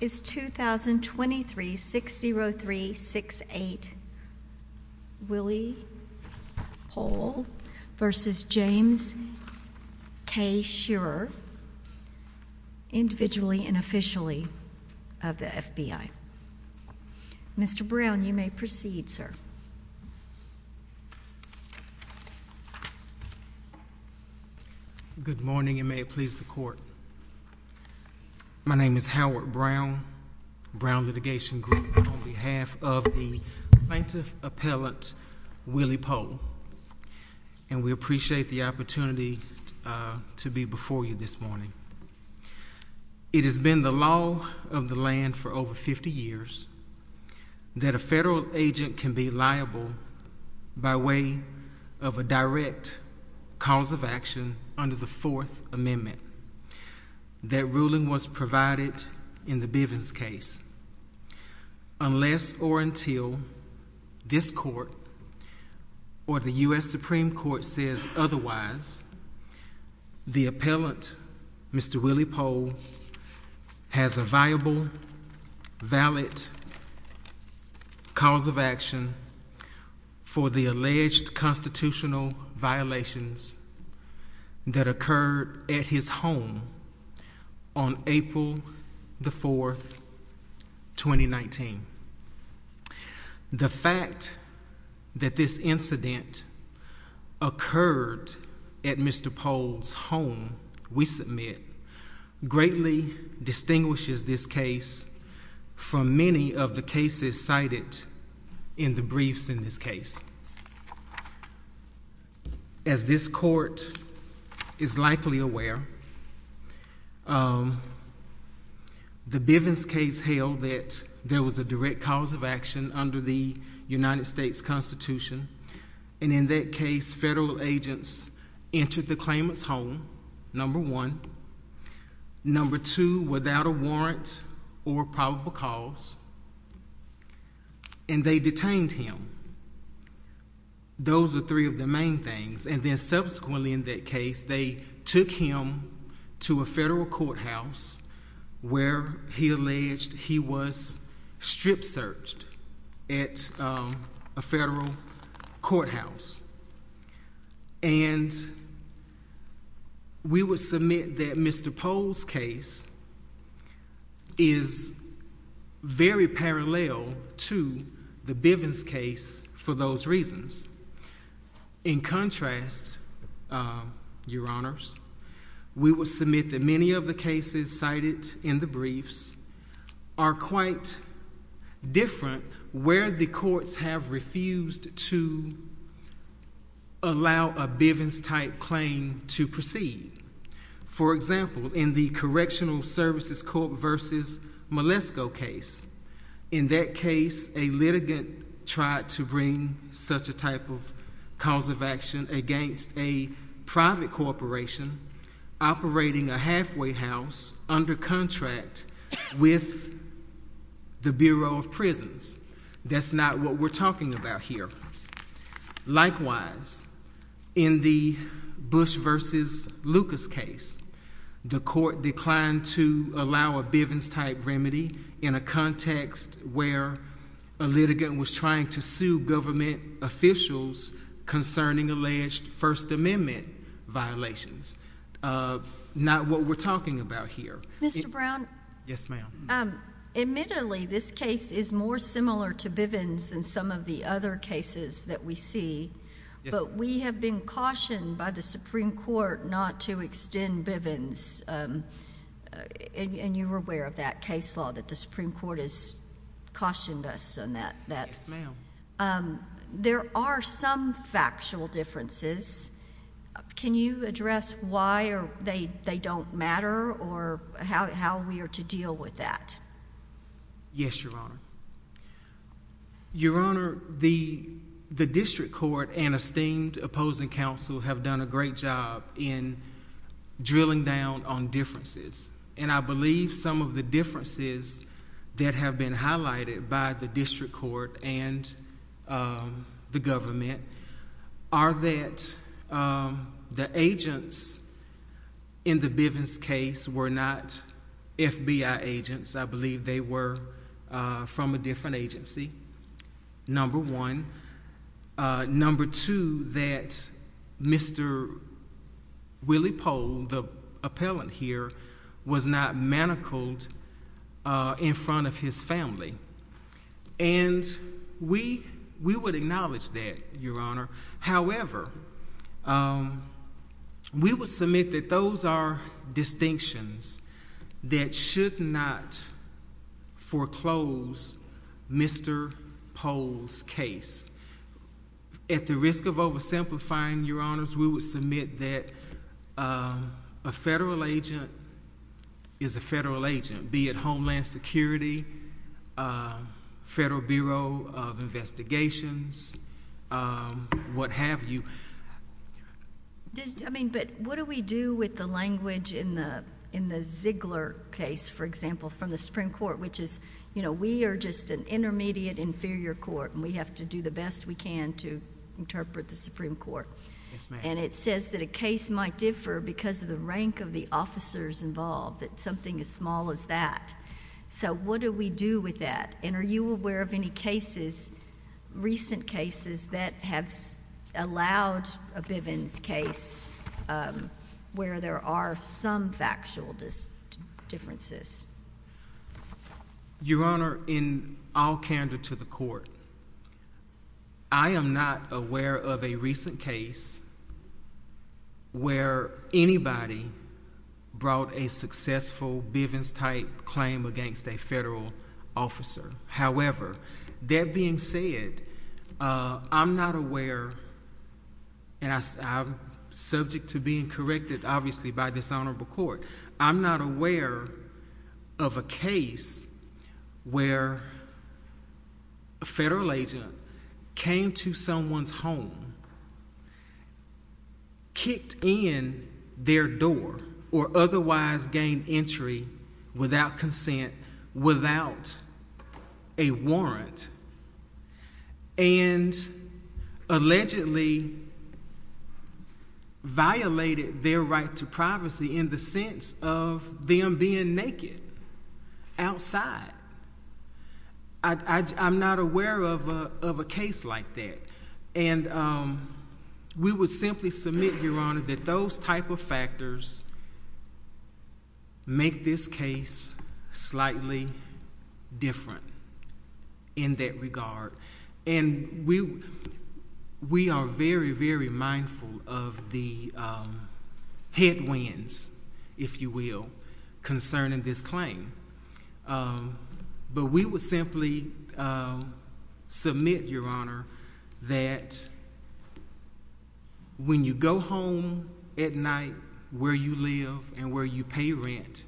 is 2023-60368 Willie Pohl v. James K. Shearer, individually and officially, of the FBI. Mr. Brown, you may proceed, sir. Good morning, and may it please the Court. My name is Howard Brown, Brown Litigation Group, and on behalf of the plaintiff appellate Willie Pohl, and we appreciate the opportunity to be before you this morning. It has been the law of the land for over 50 years that a federal agent can be liable by way of a direct cause of action under the Fourth Amendment. That ruling was provided in the Bivens case. Unless or until this Court or the U.S. Supreme Court says otherwise, the appellant, Mr. Willie Pohl, has a viable, valid cause of action for the alleged constitutional violations that occurred at his home on April the 4th, 2019. The fact that this incident occurred at Mr. Pohl's home, we submit, greatly distinguishes this case from many of the cases cited in the briefs in this case. As this Court is likely aware, the Bivens case held that there was a direct cause of action under the United States Constitution, and in that case, federal agents entered the claimant's home, number one, number two, without a warrant or probable cause, and they detained him. Those are three of the main things, and then subsequently in that case, they took him to a federal courthouse where he alleged he was strip-searched at a federal courthouse. We would submit that Mr. Pohl's case is very parallel to the Bivens case for those reasons. In contrast, Your Honors, we would submit that many of the cases cited in the briefs are quite different where the courts have refused to allow a Bivens-type claim to proceed. For example, in the Correctional Services Court v. Malesko case, in that case, a litigant tried to bring such a type of cause of action against a private corporation operating a the Bureau of Prisons. That's not what we're talking about here. Likewise, in the Bush v. Lucas case, the Court declined to allow a Bivens-type remedy in a context where a litigant was trying to sue government officials concerning alleged First Amendment violations. Not what we're talking about here. Mr. Brown? Yes, ma'am. Admittedly, this case is more similar to Bivens than some of the other cases that we see, but we have been cautioned by the Supreme Court not to extend Bivens, and you're aware of that case law that the Supreme Court has cautioned us on that. There are some factual differences. Can you address why they don't matter or how we are to deal with that? Yes, Your Honor. Your Honor, the district court and esteemed opposing counsel have done a great job in drilling down on differences, and I believe some of the differences that have been highlighted by the district court and the government are that the agents in the Bivens case were not FBI agents. I believe they were from a different agency, number one. Number two, that Mr. Willie Pohl, the appellant here, was not manacled in front of his family, and we would acknowledge that, Your Honor. However, we would submit that those are distinctions that should not foreclose Mr. Pohl's case. At the risk of oversimplifying, Your Honors, we would submit that a federal agent is a federal agent, be it Homeland Security, Federal Bureau of Investigations, what have you. But what do we do with the language in the Ziegler case, for example, from the Supreme Court? We have to do the best we can to interpret the Supreme Court, and it says that a case might differ because of the rank of the officers involved, that something as small as that. So what do we do with that, and are you aware of any cases, recent cases, that have allowed a Bivens case where there are some factual differences? Your Honor, in all candor to the Court, I am not aware of a recent case where anybody brought a successful Bivens-type claim against a federal officer. However, that being said, I'm not aware, and I'm subject to being corrected, obviously, by this Honorable Court. I'm not aware of a case where a federal agent came to someone's home, kicked in their door, or otherwise gained entry without consent, without a warrant, and allegedly violated their right to privacy in the sense of them being naked outside. I'm not aware of a case like that, and we would simply submit, Your Honor, that those type of factors make this case slightly different in that regard, and we are very, very mindful of the headwinds, if you will, concerning this claim, but we would simply submit, Your Honor, that when you go home at night where you live and where you pay rent,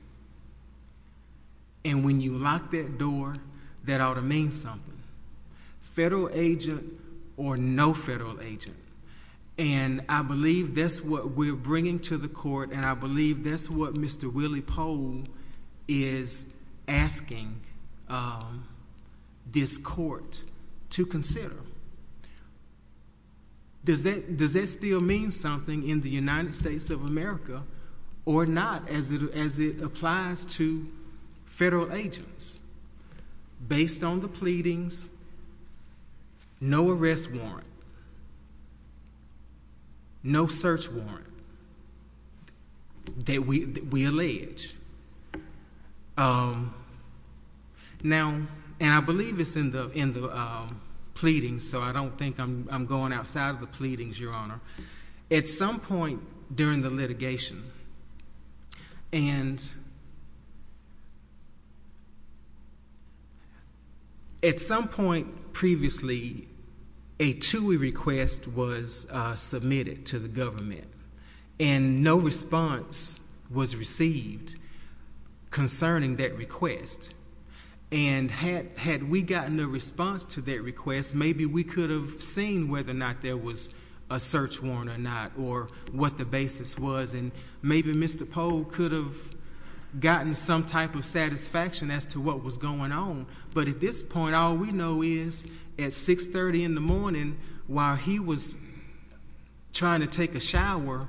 and when you lock that door, that ought to mean something. Federal agent or no federal agent, and I believe that's what we're bringing to the Court, and I believe that's what Mr. Willie Pohl is asking this Court to consider. Does that still mean something in the United States of America or not, as it applies to no arrest warrant, no search warrant, that we allege? Now, and I believe it's in the pleadings, so I don't think I'm going outside of the pleadings, Your Honor. At some point during the litigation, and at some point previously, a TUI request was submitted to the government, and no response was received concerning that request, and had we gotten a response to that request, maybe we could have seen whether or not there was a search warrant or not, or what the basis was, and maybe Mr. Pohl could have gotten some type of satisfaction as to what was going on, but at this point, all we know is at 630 in the morning, while he was trying to take a shower,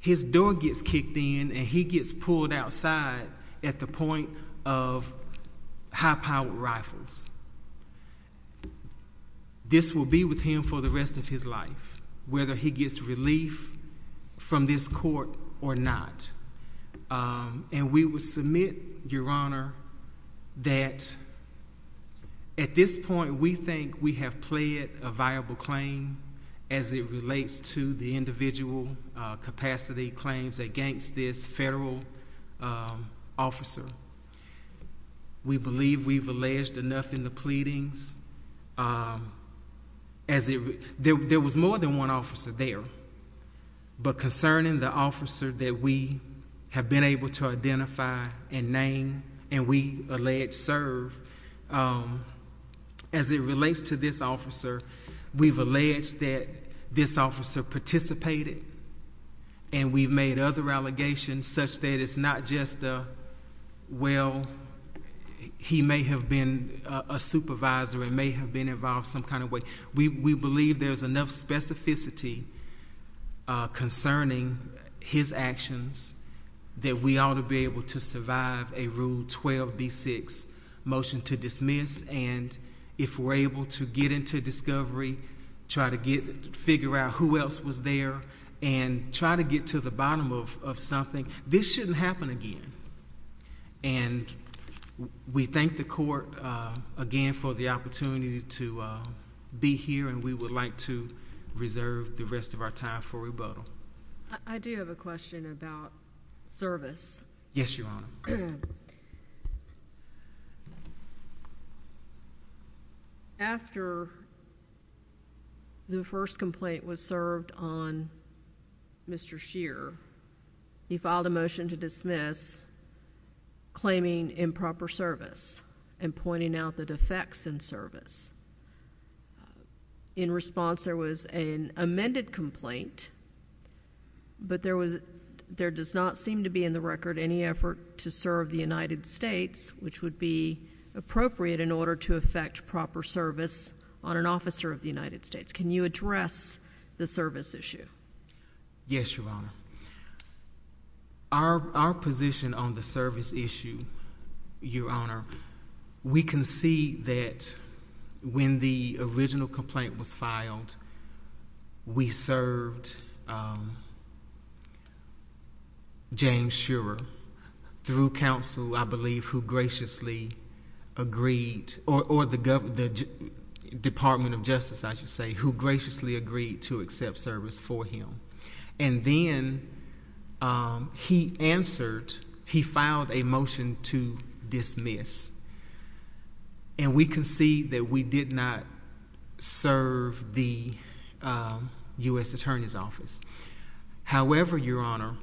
his door gets kicked in, and he gets pulled outside at the point of high-powered rifles. This will be with him for the rest of his life, whether he gets relief from this Court or not, and we would submit, Your Honor, that at this point, we think we have pled a viable claim as it relates to the individual capacity claims against this federal officer. We believe we've alleged enough in the pleadings. There was more than one officer there, but concerning the officer that we have been able to identify and name, and we allege serve, as it relates to this officer, we've alleged that this officer participated, and we've made other allegations such that it's not just a, well, he may have been a supervisor and may have been involved some kind of way. We believe there's enough specificity concerning his actions that we ought to be able to survive a Rule 12b6 motion to dismiss, and if we're able to get into discovery, try to figure out who else was there, and try to get to the bottom of something, this shouldn't happen again, and we thank the Court, again, for the opportunity to be here, and we would like to reserve the rest of our time for rebuttal. I do have a question about service. Yes, Your Honor. After the first complaint was served on Mr. Scheer, he filed a motion to dismiss, claiming improper service and pointing out the defects in service. In response, there was an amended complaint, but there does not seem to be in the record any effort to serve the United States, which would be appropriate in order to effect proper service on an officer of the United States. Can you address the service issue? Yes, Your Honor. Our position on the service issue, Your Honor, we can see that when the original complaint was filed, we served James Scherer through counsel, I believe, who graciously agreed, or the Department of Justice, I should say, who graciously agreed to accept service for him, and then he answered, he filed a motion to dismiss, and we can see that we did not serve the U.S. Attorney's Office. However, Your Honor,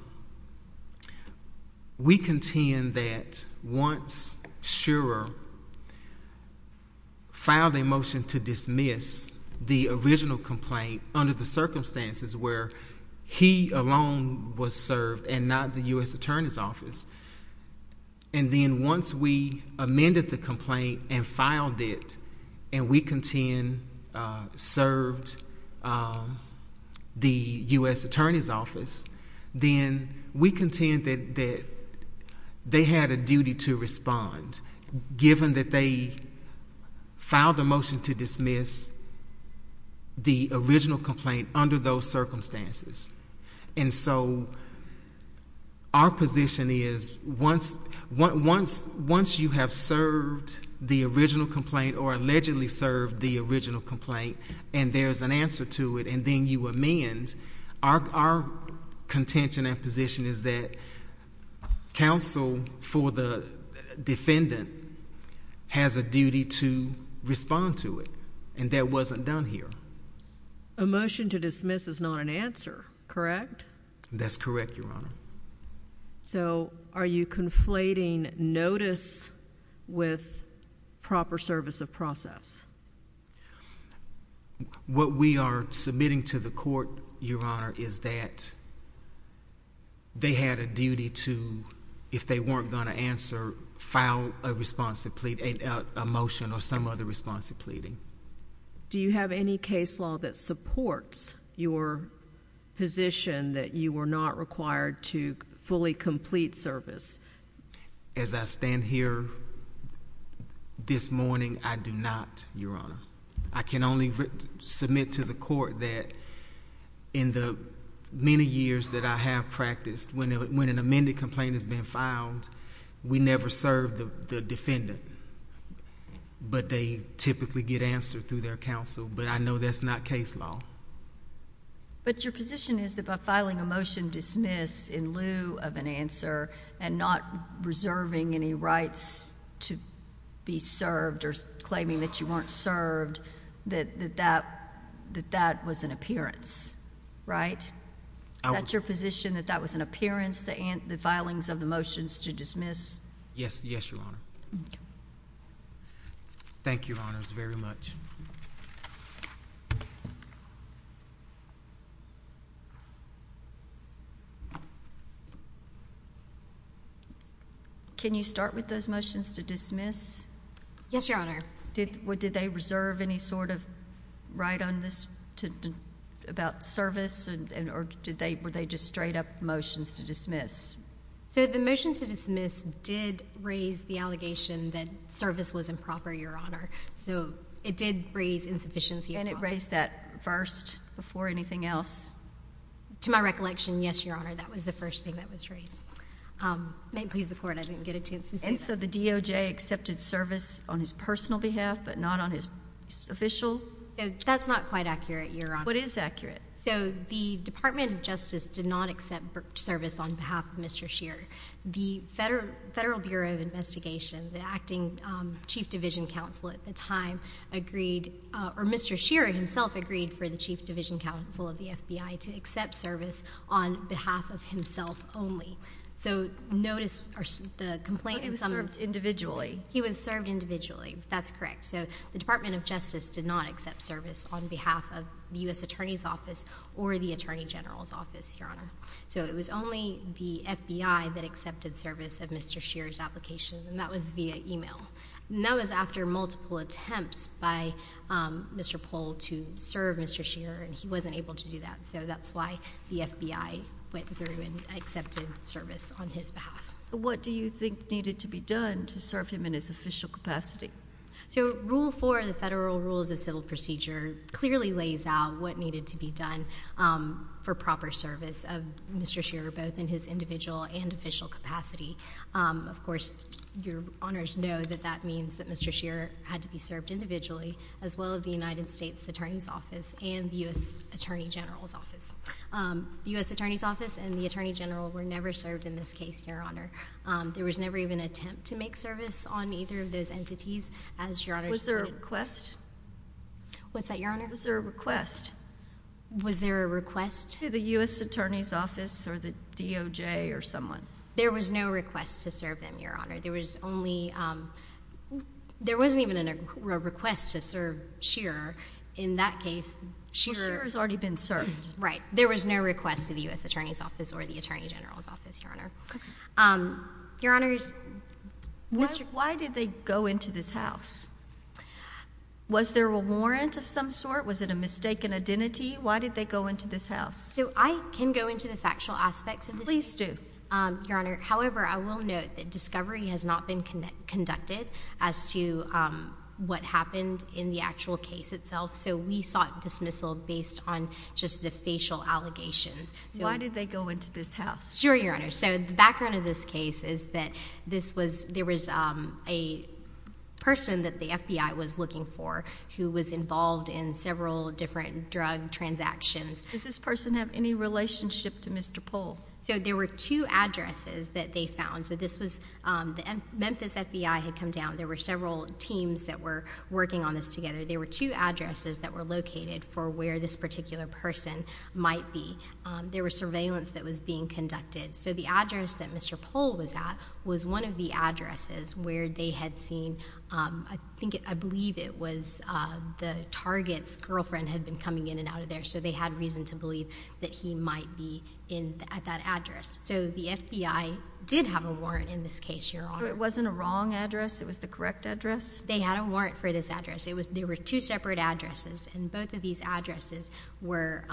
we contend that once Scherer filed a motion to dismiss the original complaint under the circumstances where he alone was served and not the U.S. Attorney's Office, and then once we amended the complaint and filed it, and we contend served the U.S. Attorney's Office, then we contend that they had a duty to respond, given that they filed a motion to dismiss the original complaint under those circumstances. And so, our position is once you have served the original complaint or allegedly served the original complaint, and there's an answer to it, and then you amend, our contention and position is that counsel for the defendant has a duty to respond to it, and that wasn't done here. A motion to dismiss is not an answer, correct? That's correct, Your Honor. So are you conflating notice with proper service of process? Yes. What we are submitting to the Court, Your Honor, is that they had a duty to, if they weren't going to answer, file a motion or some other response to pleading. Do you have any case law that supports your position that you were not required to fully complete service? As I stand here this morning, I do not, Your Honor. I can only submit to the Court that in the many years that I have practiced, when an amended complaint has been filed, we never serve the defendant, but they typically get answered through their counsel, but I know that's not case law. But your position is that by filing a motion dismiss in lieu of an answer and not reserving any rights to be served or claiming that you weren't served, that that was an appearance, right? Is that your position, that that was an appearance, the filings of the motions to dismiss? Yes. Yes, Your Honor. Thank you. Thank you, Your Honors, very much. Can you start with those motions to dismiss? Yes, Your Honor. Did they reserve any sort of right on this about service, or were they just straight-up motions to dismiss? So the motion to dismiss did raise the allegation that service was improper, Your Honor, so it did raise insufficiency of office. And it raised that first before anything else? To my recollection, yes, Your Honor, that was the first thing that was raised. May it please the Court, I didn't get a chance to see that. And so the DOJ accepted service on his personal behalf, but not on his official? That's not quite accurate, Your Honor. What is accurate? So the Department of Justice did not accept service on behalf of Mr. Shearer. The Federal Bureau of Investigation, the acting Chief Division Counsel at the time, agreed — or Mr. Shearer himself agreed for the Chief Division Counsel of the FBI to accept service on behalf of himself only. So notice the complaint in some — But he was served individually? He was served individually. That's correct. So the Department of Justice did not accept service on behalf of the U.S. Attorney's Office or the Attorney General's Office, Your Honor. So it was only the FBI that accepted service of Mr. Shearer's application, and that was via email. And that was after multiple attempts by Mr. Pohl to serve Mr. Shearer, and he wasn't able to do that. So that's why the FBI went through and accepted service on his behalf. What do you think needed to be done to serve him in his official capacity? So Rule 4 of the Federal Rules of Civil Procedure clearly lays out what needed to be done for proper service of Mr. Shearer, both in his individual and official capacity. Of course, Your Honors know that that means that Mr. Shearer had to be served individually as well as the United States Attorney's Office and the U.S. Attorney General's Office. The U.S. Attorney's Office and the Attorney General were never served in this case, Your Honor. There was never even an attempt to make service on either of those entities as Your Honor stated. Was there a request? What's that, Your Honor? Was there a request? Was there a request? To the U.S. Attorney's Office or the DOJ or someone? There was no request to serve them, Your Honor. There was only... there wasn't even a request to serve Shearer. In that case, Shearer... Well, Shearer's already been served. Right. There was no request to the U.S. Attorney's Office or the Attorney General's Office, Your Honor. Why did they go into this house? Was there a warrant of some sort? Was it a mistaken identity? Why did they go into this house? I can go into the factual aspects of this case. Please do, Your Honor. However, I will note that discovery has not been conducted as to what happened in the actual case itself, so we sought dismissal based on just the facial allegations. Why did they go into this house? Sure, Your Honor. So, the background of this case is that this was... there was a person that the FBI was looking for who was involved in several different drug transactions. Does this person have any relationship to Mr. Pohl? So, there were two addresses that they found. So, this was... the Memphis FBI had come down. There were several teams that were working on this together. There were two addresses that were located for where this particular person might be. There was surveillance that was being conducted. So, the address that Mr. Pohl was at was one of the addresses where they had seen... I believe it was the target's girlfriend had been coming in and out of there, so they had reason to believe that he might be at that address. So, the FBI did have a warrant in this case, Your Honor. So, it wasn't a wrong address? It was the correct address? They had a warrant for this address. There were two separate addresses, and both of these addresses were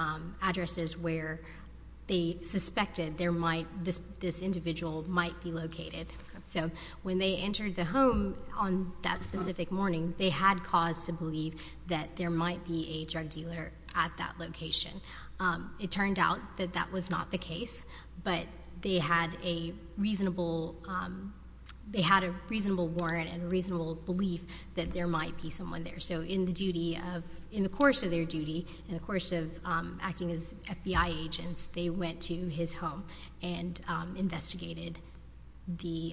addresses where they suspected this individual might be located. So, when they entered the home on that specific morning, they had cause to believe that there might be a drug dealer at that location. It turned out that that was not the case, but they had a reasonable warrant and a reasonable belief that there might be someone there. So, in the duty of... in the course of their duty, in the course of acting as FBI agents, they went to his home and investigated the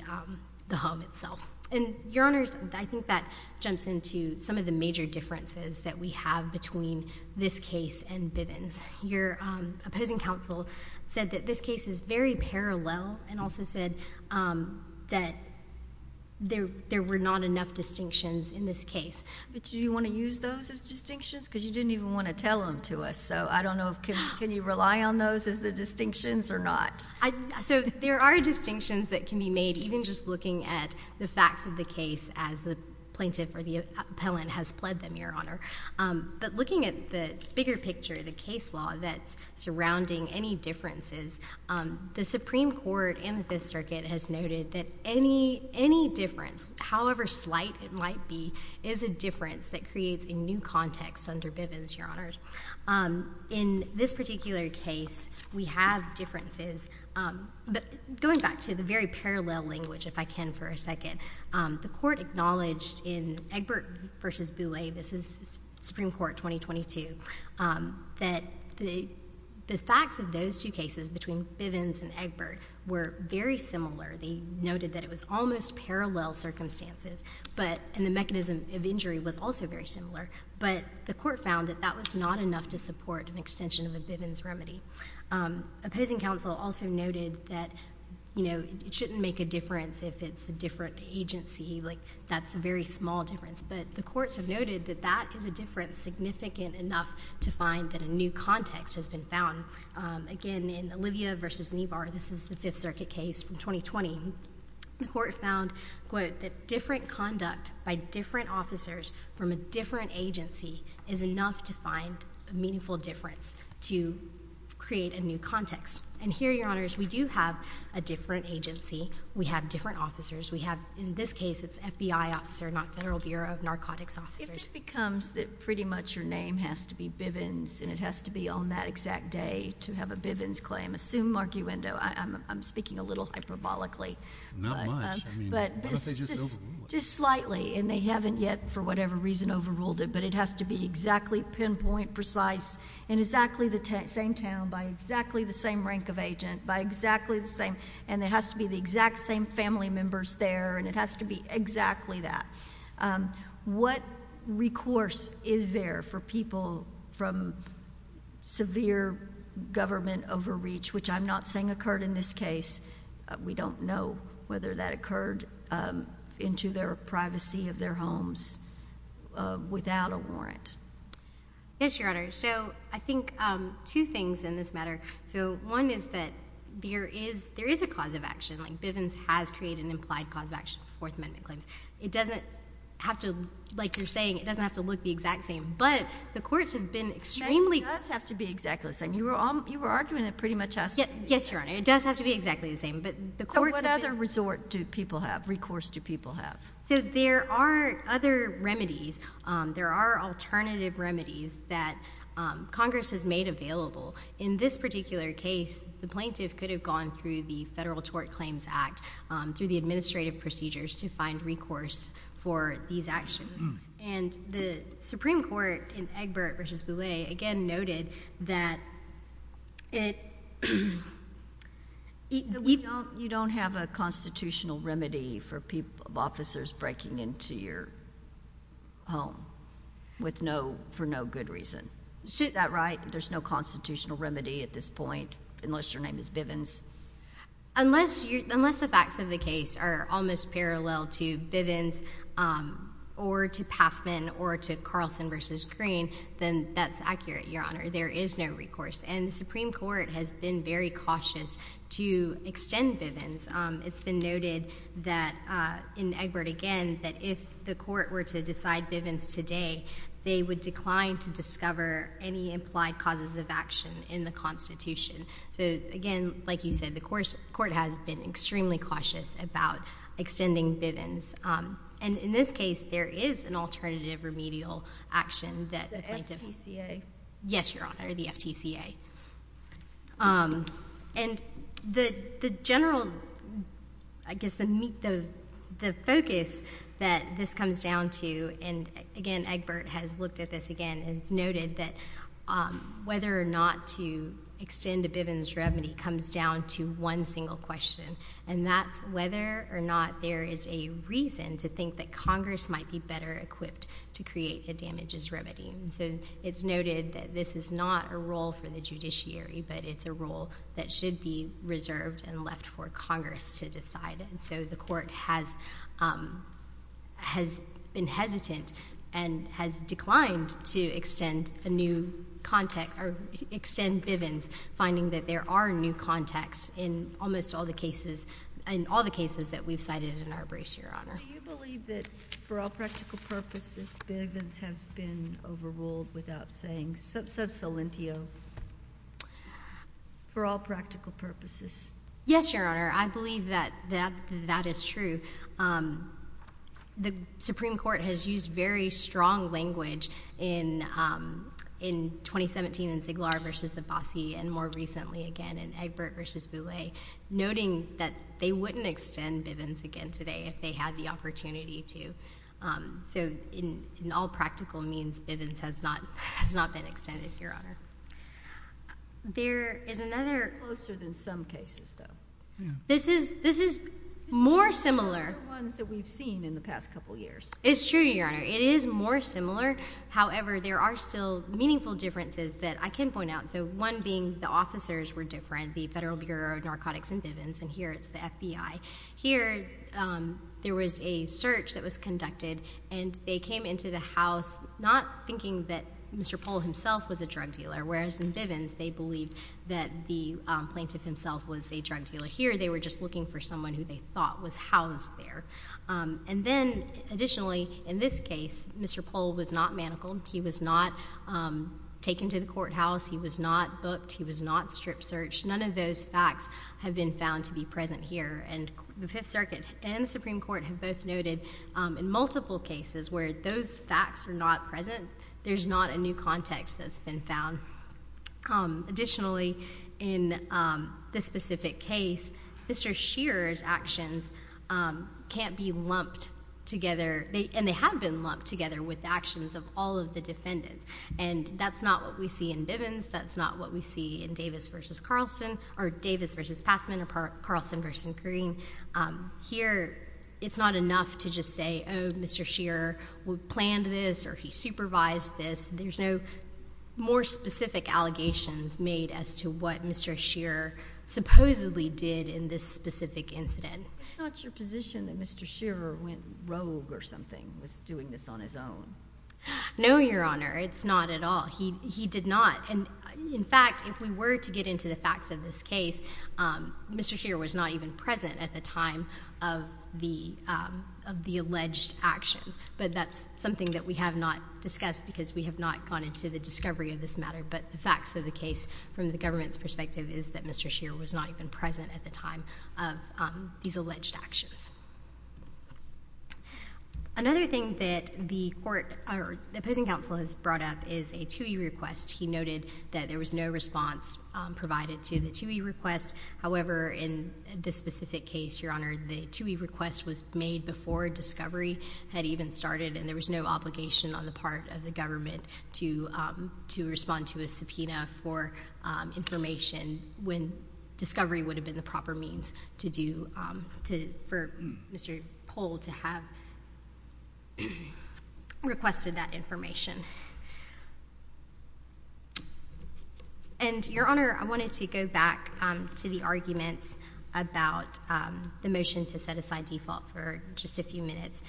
home itself. And Your Honor, I think that jumps into some of the major differences that we have between this case and Bivens. Your opposing counsel said that this case is very parallel and also said that there were not enough distinctions in this case. But, do you want to use those as distinctions? Because you didn't even want to tell them to us. So, I don't know if... can you rely on those as the distinctions or not? So, there are distinctions that can be made, even just looking at the facts of the case as the plaintiff or the appellant has pled them, Your Honor. But, looking at the bigger picture, the case law that's surrounding any differences, the Supreme Court and the Fifth Circuit has noted that any difference, however slight it might be, is a difference that creates a new context under Bivens, Your Honors. In this particular case, we have differences. But, going back to the very parallel language, if I can for a second, the Court acknowledged in Egbert v. Bouley, this is Supreme Court 2022, that the facts of those two cases between Bivens and Egbert were very similar. They noted that it was almost parallel circumstances, but... and the mechanism of injury was also very similar. But, the Court found that that was not enough to support an extension of a Bivens remedy. Opposing counsel also noted that, you know, it shouldn't make a difference if it's a different agency. Like, that's a very small difference. But, the courts have noted that that is a difference significant enough to find that a new context has been found. Again, in Olivia v. Neibar, this is the Fifth Circuit case from 2020, the Court found, quote, that different conduct by different officers from a different agency is enough to find a meaningful difference to create a new context. And here, Your Honors, we do have a different agency. We have different officers. We have, in this case, it's FBI officer, not Federal Bureau of Narcotics officers. If it becomes that pretty much your name has to be Bivens and it has to be on that exact day to have a Bivens claim, assume arguendo, I'm speaking a little hyperbolically. Not much. I mean, how about they just overrule it? Just slightly. And they haven't yet, for whatever reason, overruled it, but it has to be exactly pinpoint precise in exactly the same town, by exactly the same rank of agent, by exactly the same, and it has to be the exact same family members there, and it has to be exactly that. What recourse is there for people from severe government overreach, which I'm not saying occurred in this case. We don't know whether that occurred into their privacy of their homes without a warrant. Yes, Your Honor. So I think two things in this matter. So one is that there is a cause of action. Like, Bivens has created an implied cause of action for Fourth Amendment claims. It doesn't have to, like you're saying, it doesn't have to look the exact same, but the courts have been extremely— It does have to be exactly the same. You were arguing it pretty much has to be the same. Yes, Your Honor. It does have to be exactly the same, but the courts have been— So what other resort do people have? Recourse do people have? So there are other remedies. There are alternative remedies that Congress has made available. In this particular case, the plaintiff could have gone through the Federal Tort Claims Act, through the administrative procedures, to find recourse for these actions. And the Supreme Court, in Egbert v. Boulay, again noted that it— You don't have a constitutional remedy for officers breaking into your home for no good reason. Is that right? There's no constitutional remedy at this point, unless your name is Bivens? Unless the facts of the case are almost parallel to Bivens, or to Passman, or to Carlson v. Green, then that's accurate, Your Honor. There is no recourse. And the Supreme Court has been very cautious to extend Bivens. It's been noted that, in Egbert again, that if the court were to decide Bivens today, they would decline to discover any implied causes of action in the Constitution. So, again, like you said, the court has been extremely cautious about extending Bivens. And in this case, there is an alternative remedial action that the plaintiff— The FTCA? Yes, Your Honor, the FTCA. And the general—I guess the focus that this comes down to—and, again, Egbert has looked at this again—it's noted that whether or not to extend a Bivens remedy comes down to one single question, and that's whether or not there is a reason to think that Congress might be better equipped to create a damages remedy. So, it's noted that this is not a role for the judiciary, but it's a role that should be reserved and left for Congress to decide. And so, the court has been hesitant and has declined to extend Bivens, finding that there are new contexts in almost all the cases that we've cited in our briefs, Your Honor. Do you believe that, for all practical purposes, Bivens has been overruled without saying subsolentio? For all practical purposes. Yes, Your Honor. I believe that that is true. The Supreme Court has used very strong language in 2017 in Siglar v. Abbasi and more recently again in Egbert v. Boulay, noting that they wouldn't extend Bivens again today if they had the opportunity to. So, in all practical means, Bivens has not been extended, Your Honor. There is another— It's closer than some cases, though. This is more similar— This is more similar than the ones that we've seen in the past couple of years. It's true, Your Honor. It is more similar. However, there are still meaningful differences that I can point out. So, one being the officers were different, the Federal Bureau of Narcotics and Bivens, and here it's the FBI. Here, there was a search that was conducted and they came into the House not thinking that Mr. Pohl himself was a drug dealer, whereas in Bivens, they believed that the plaintiff himself was a drug dealer. Here, they were just looking for someone who they thought was housed there. And then, additionally, in this case, Mr. Pohl was not manacled. He was not taken to the courthouse. He was not booked. He was not strip searched. None of those facts have been found to be present here. And the Fifth Circuit and the Supreme Court have both noted in multiple cases where those facts are not present, there's not a new context that's been found. Additionally, in this specific case, Mr. Shearer's actions can't be lumped together, and they have been lumped together with the actions of all of the defendants. And that's not what we see in Bivens. That's not what we see in Davis v. Carlson, or Davis v. Passman, or Carlson v. Kareem. Here, it's not enough to just say, oh, Mr. Shearer planned this, or he supervised this. There's no more specific allegations made as to what Mr. Shearer supposedly did in this specific incident. It's not your position that Mr. Shearer went rogue or something, was doing this on his own? No, Your Honor. It's not at all. He did not. And in fact, if we were to get into the facts of this case, Mr. Shearer was not even present at the time of the alleged actions. But that's something that we have not discussed, because we have not gone into the discovery of this matter. But the facts of the case, from the government's perspective, is that Mr. Shearer was not even present at the time of these alleged actions. Another thing that the court, or the opposing counsel, has brought up is a TUI request. He noted that there was no response provided to the TUI request. However, in this specific case, Your Honor, the TUI request was made before discovery had even started, and there was no obligation on the part of the government to respond to a subpoena for information when discovery would have been the proper means for Mr. Pohl to have requested that information. And, Your Honor, I wanted to go back to the arguments about the motion to set aside default for just a few minutes.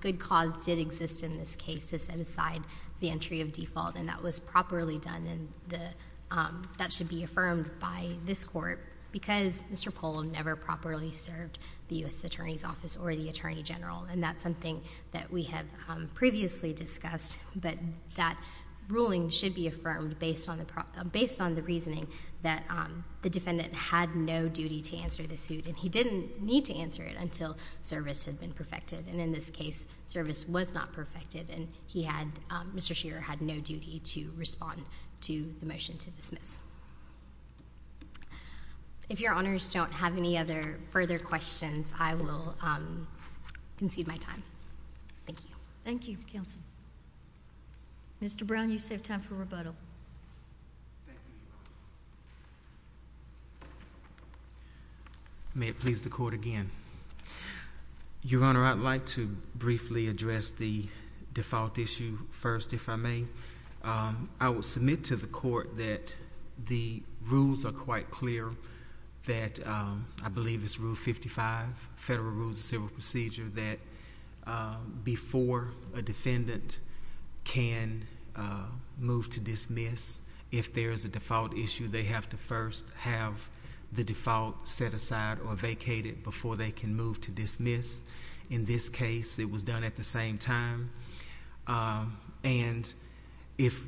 Good cause did exist in this case to set aside the entry of default, and that was properly done, and that should be affirmed by this Court, because Mr. Pohl never properly served the U.S. Attorney's Office or the Attorney General. And that's something that we have previously discussed, but that ruling should be affirmed based on the reasoning that the defendant had no duty to answer the suit, and he didn't need to answer it until service had been perfected. And in this case, service was not perfected, and Mr. Shearer had no duty to respond to the motion to dismiss. If Your Honors don't have any other further questions, I will concede my time. Thank you. Thank you, Counsel. Mr. Brown, you save time for rebuttal. May it please the Court again. Your Honor, I'd like to briefly address the default issue first, if I may. I will submit to the Court that the rules are quite clear, that I believe it's Rule 55, Federal Rules of Civil Procedure, that before a defendant can move to dismiss, if there is a default issue, they have to first have the default set aside or vacated before they can move to dismiss. In this case, it was done at the same time. And if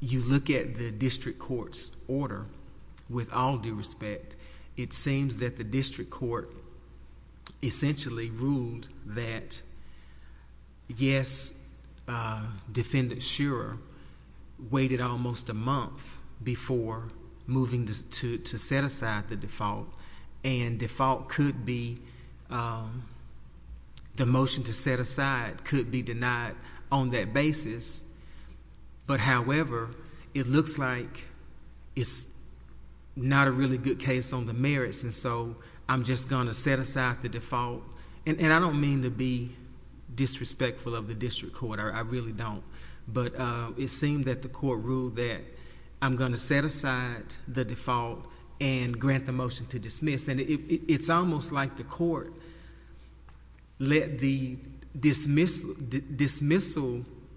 you look at the district court's order, with all due respect, it seems that the district court essentially ruled that, yes, Defendant Shearer waited almost a month before moving to set aside the default, and the motion to set aside could be denied on that basis. But however, it looks like it's not a really good case on the merits, and so I'm just going to set aside the default. And I don't mean to be disrespectful of the district court, I really don't. But it seemed that the court ruled that I'm going to set aside the default and grant the motion to dismiss. And it's almost like the court let the dismissal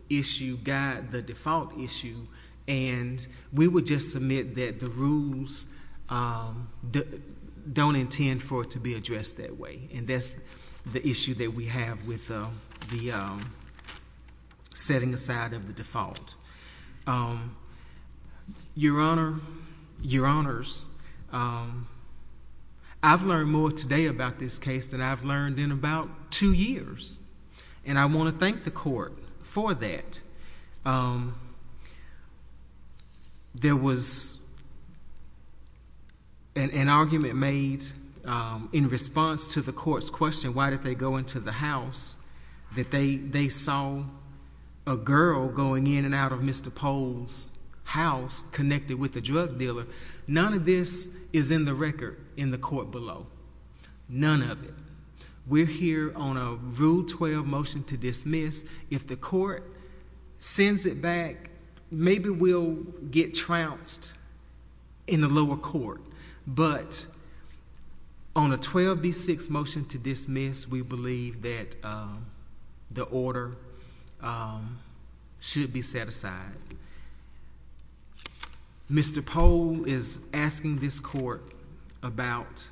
issue guide the default issue, and we would just submit that the rules don't intend for it to be addressed that way. And that's the issue that we have with the setting aside of the default. Your Honor, Your Honors, I've learned more today about this case than I've learned in about two years, and I want to thank the court for that. There was an argument made in response to the court's question, why did they go into the house, that they saw a girl going in and out of Mr. Pohl's house connected with a drug dealer. None of this is in the record in the court below, none of it. We're here on a Rule 12 motion to dismiss. If the court sends it back, maybe we'll get trounced in the lower court. But on a 12b6 motion to dismiss, we believe that the order should be set aside. Mr. Pohl is asking this court about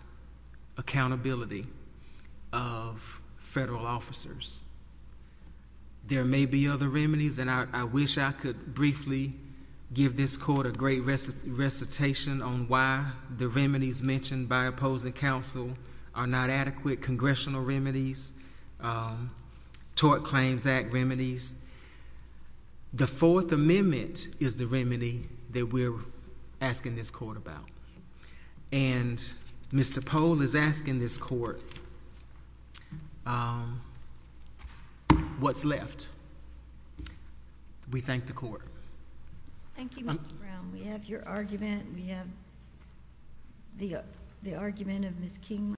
accountability of federal officers. There may be other remedies, and I wish I could briefly give this court a great recitation on why the remedies mentioned by opposing counsel are not adequate congressional remedies, tort claims act remedies. The Fourth Amendment is the remedy that we're asking this court about, and Mr. Pohl is asking this court what's left. We thank the court. Thank you, Mr. Brown. We have your argument, we have the argument of Ms. Kingley.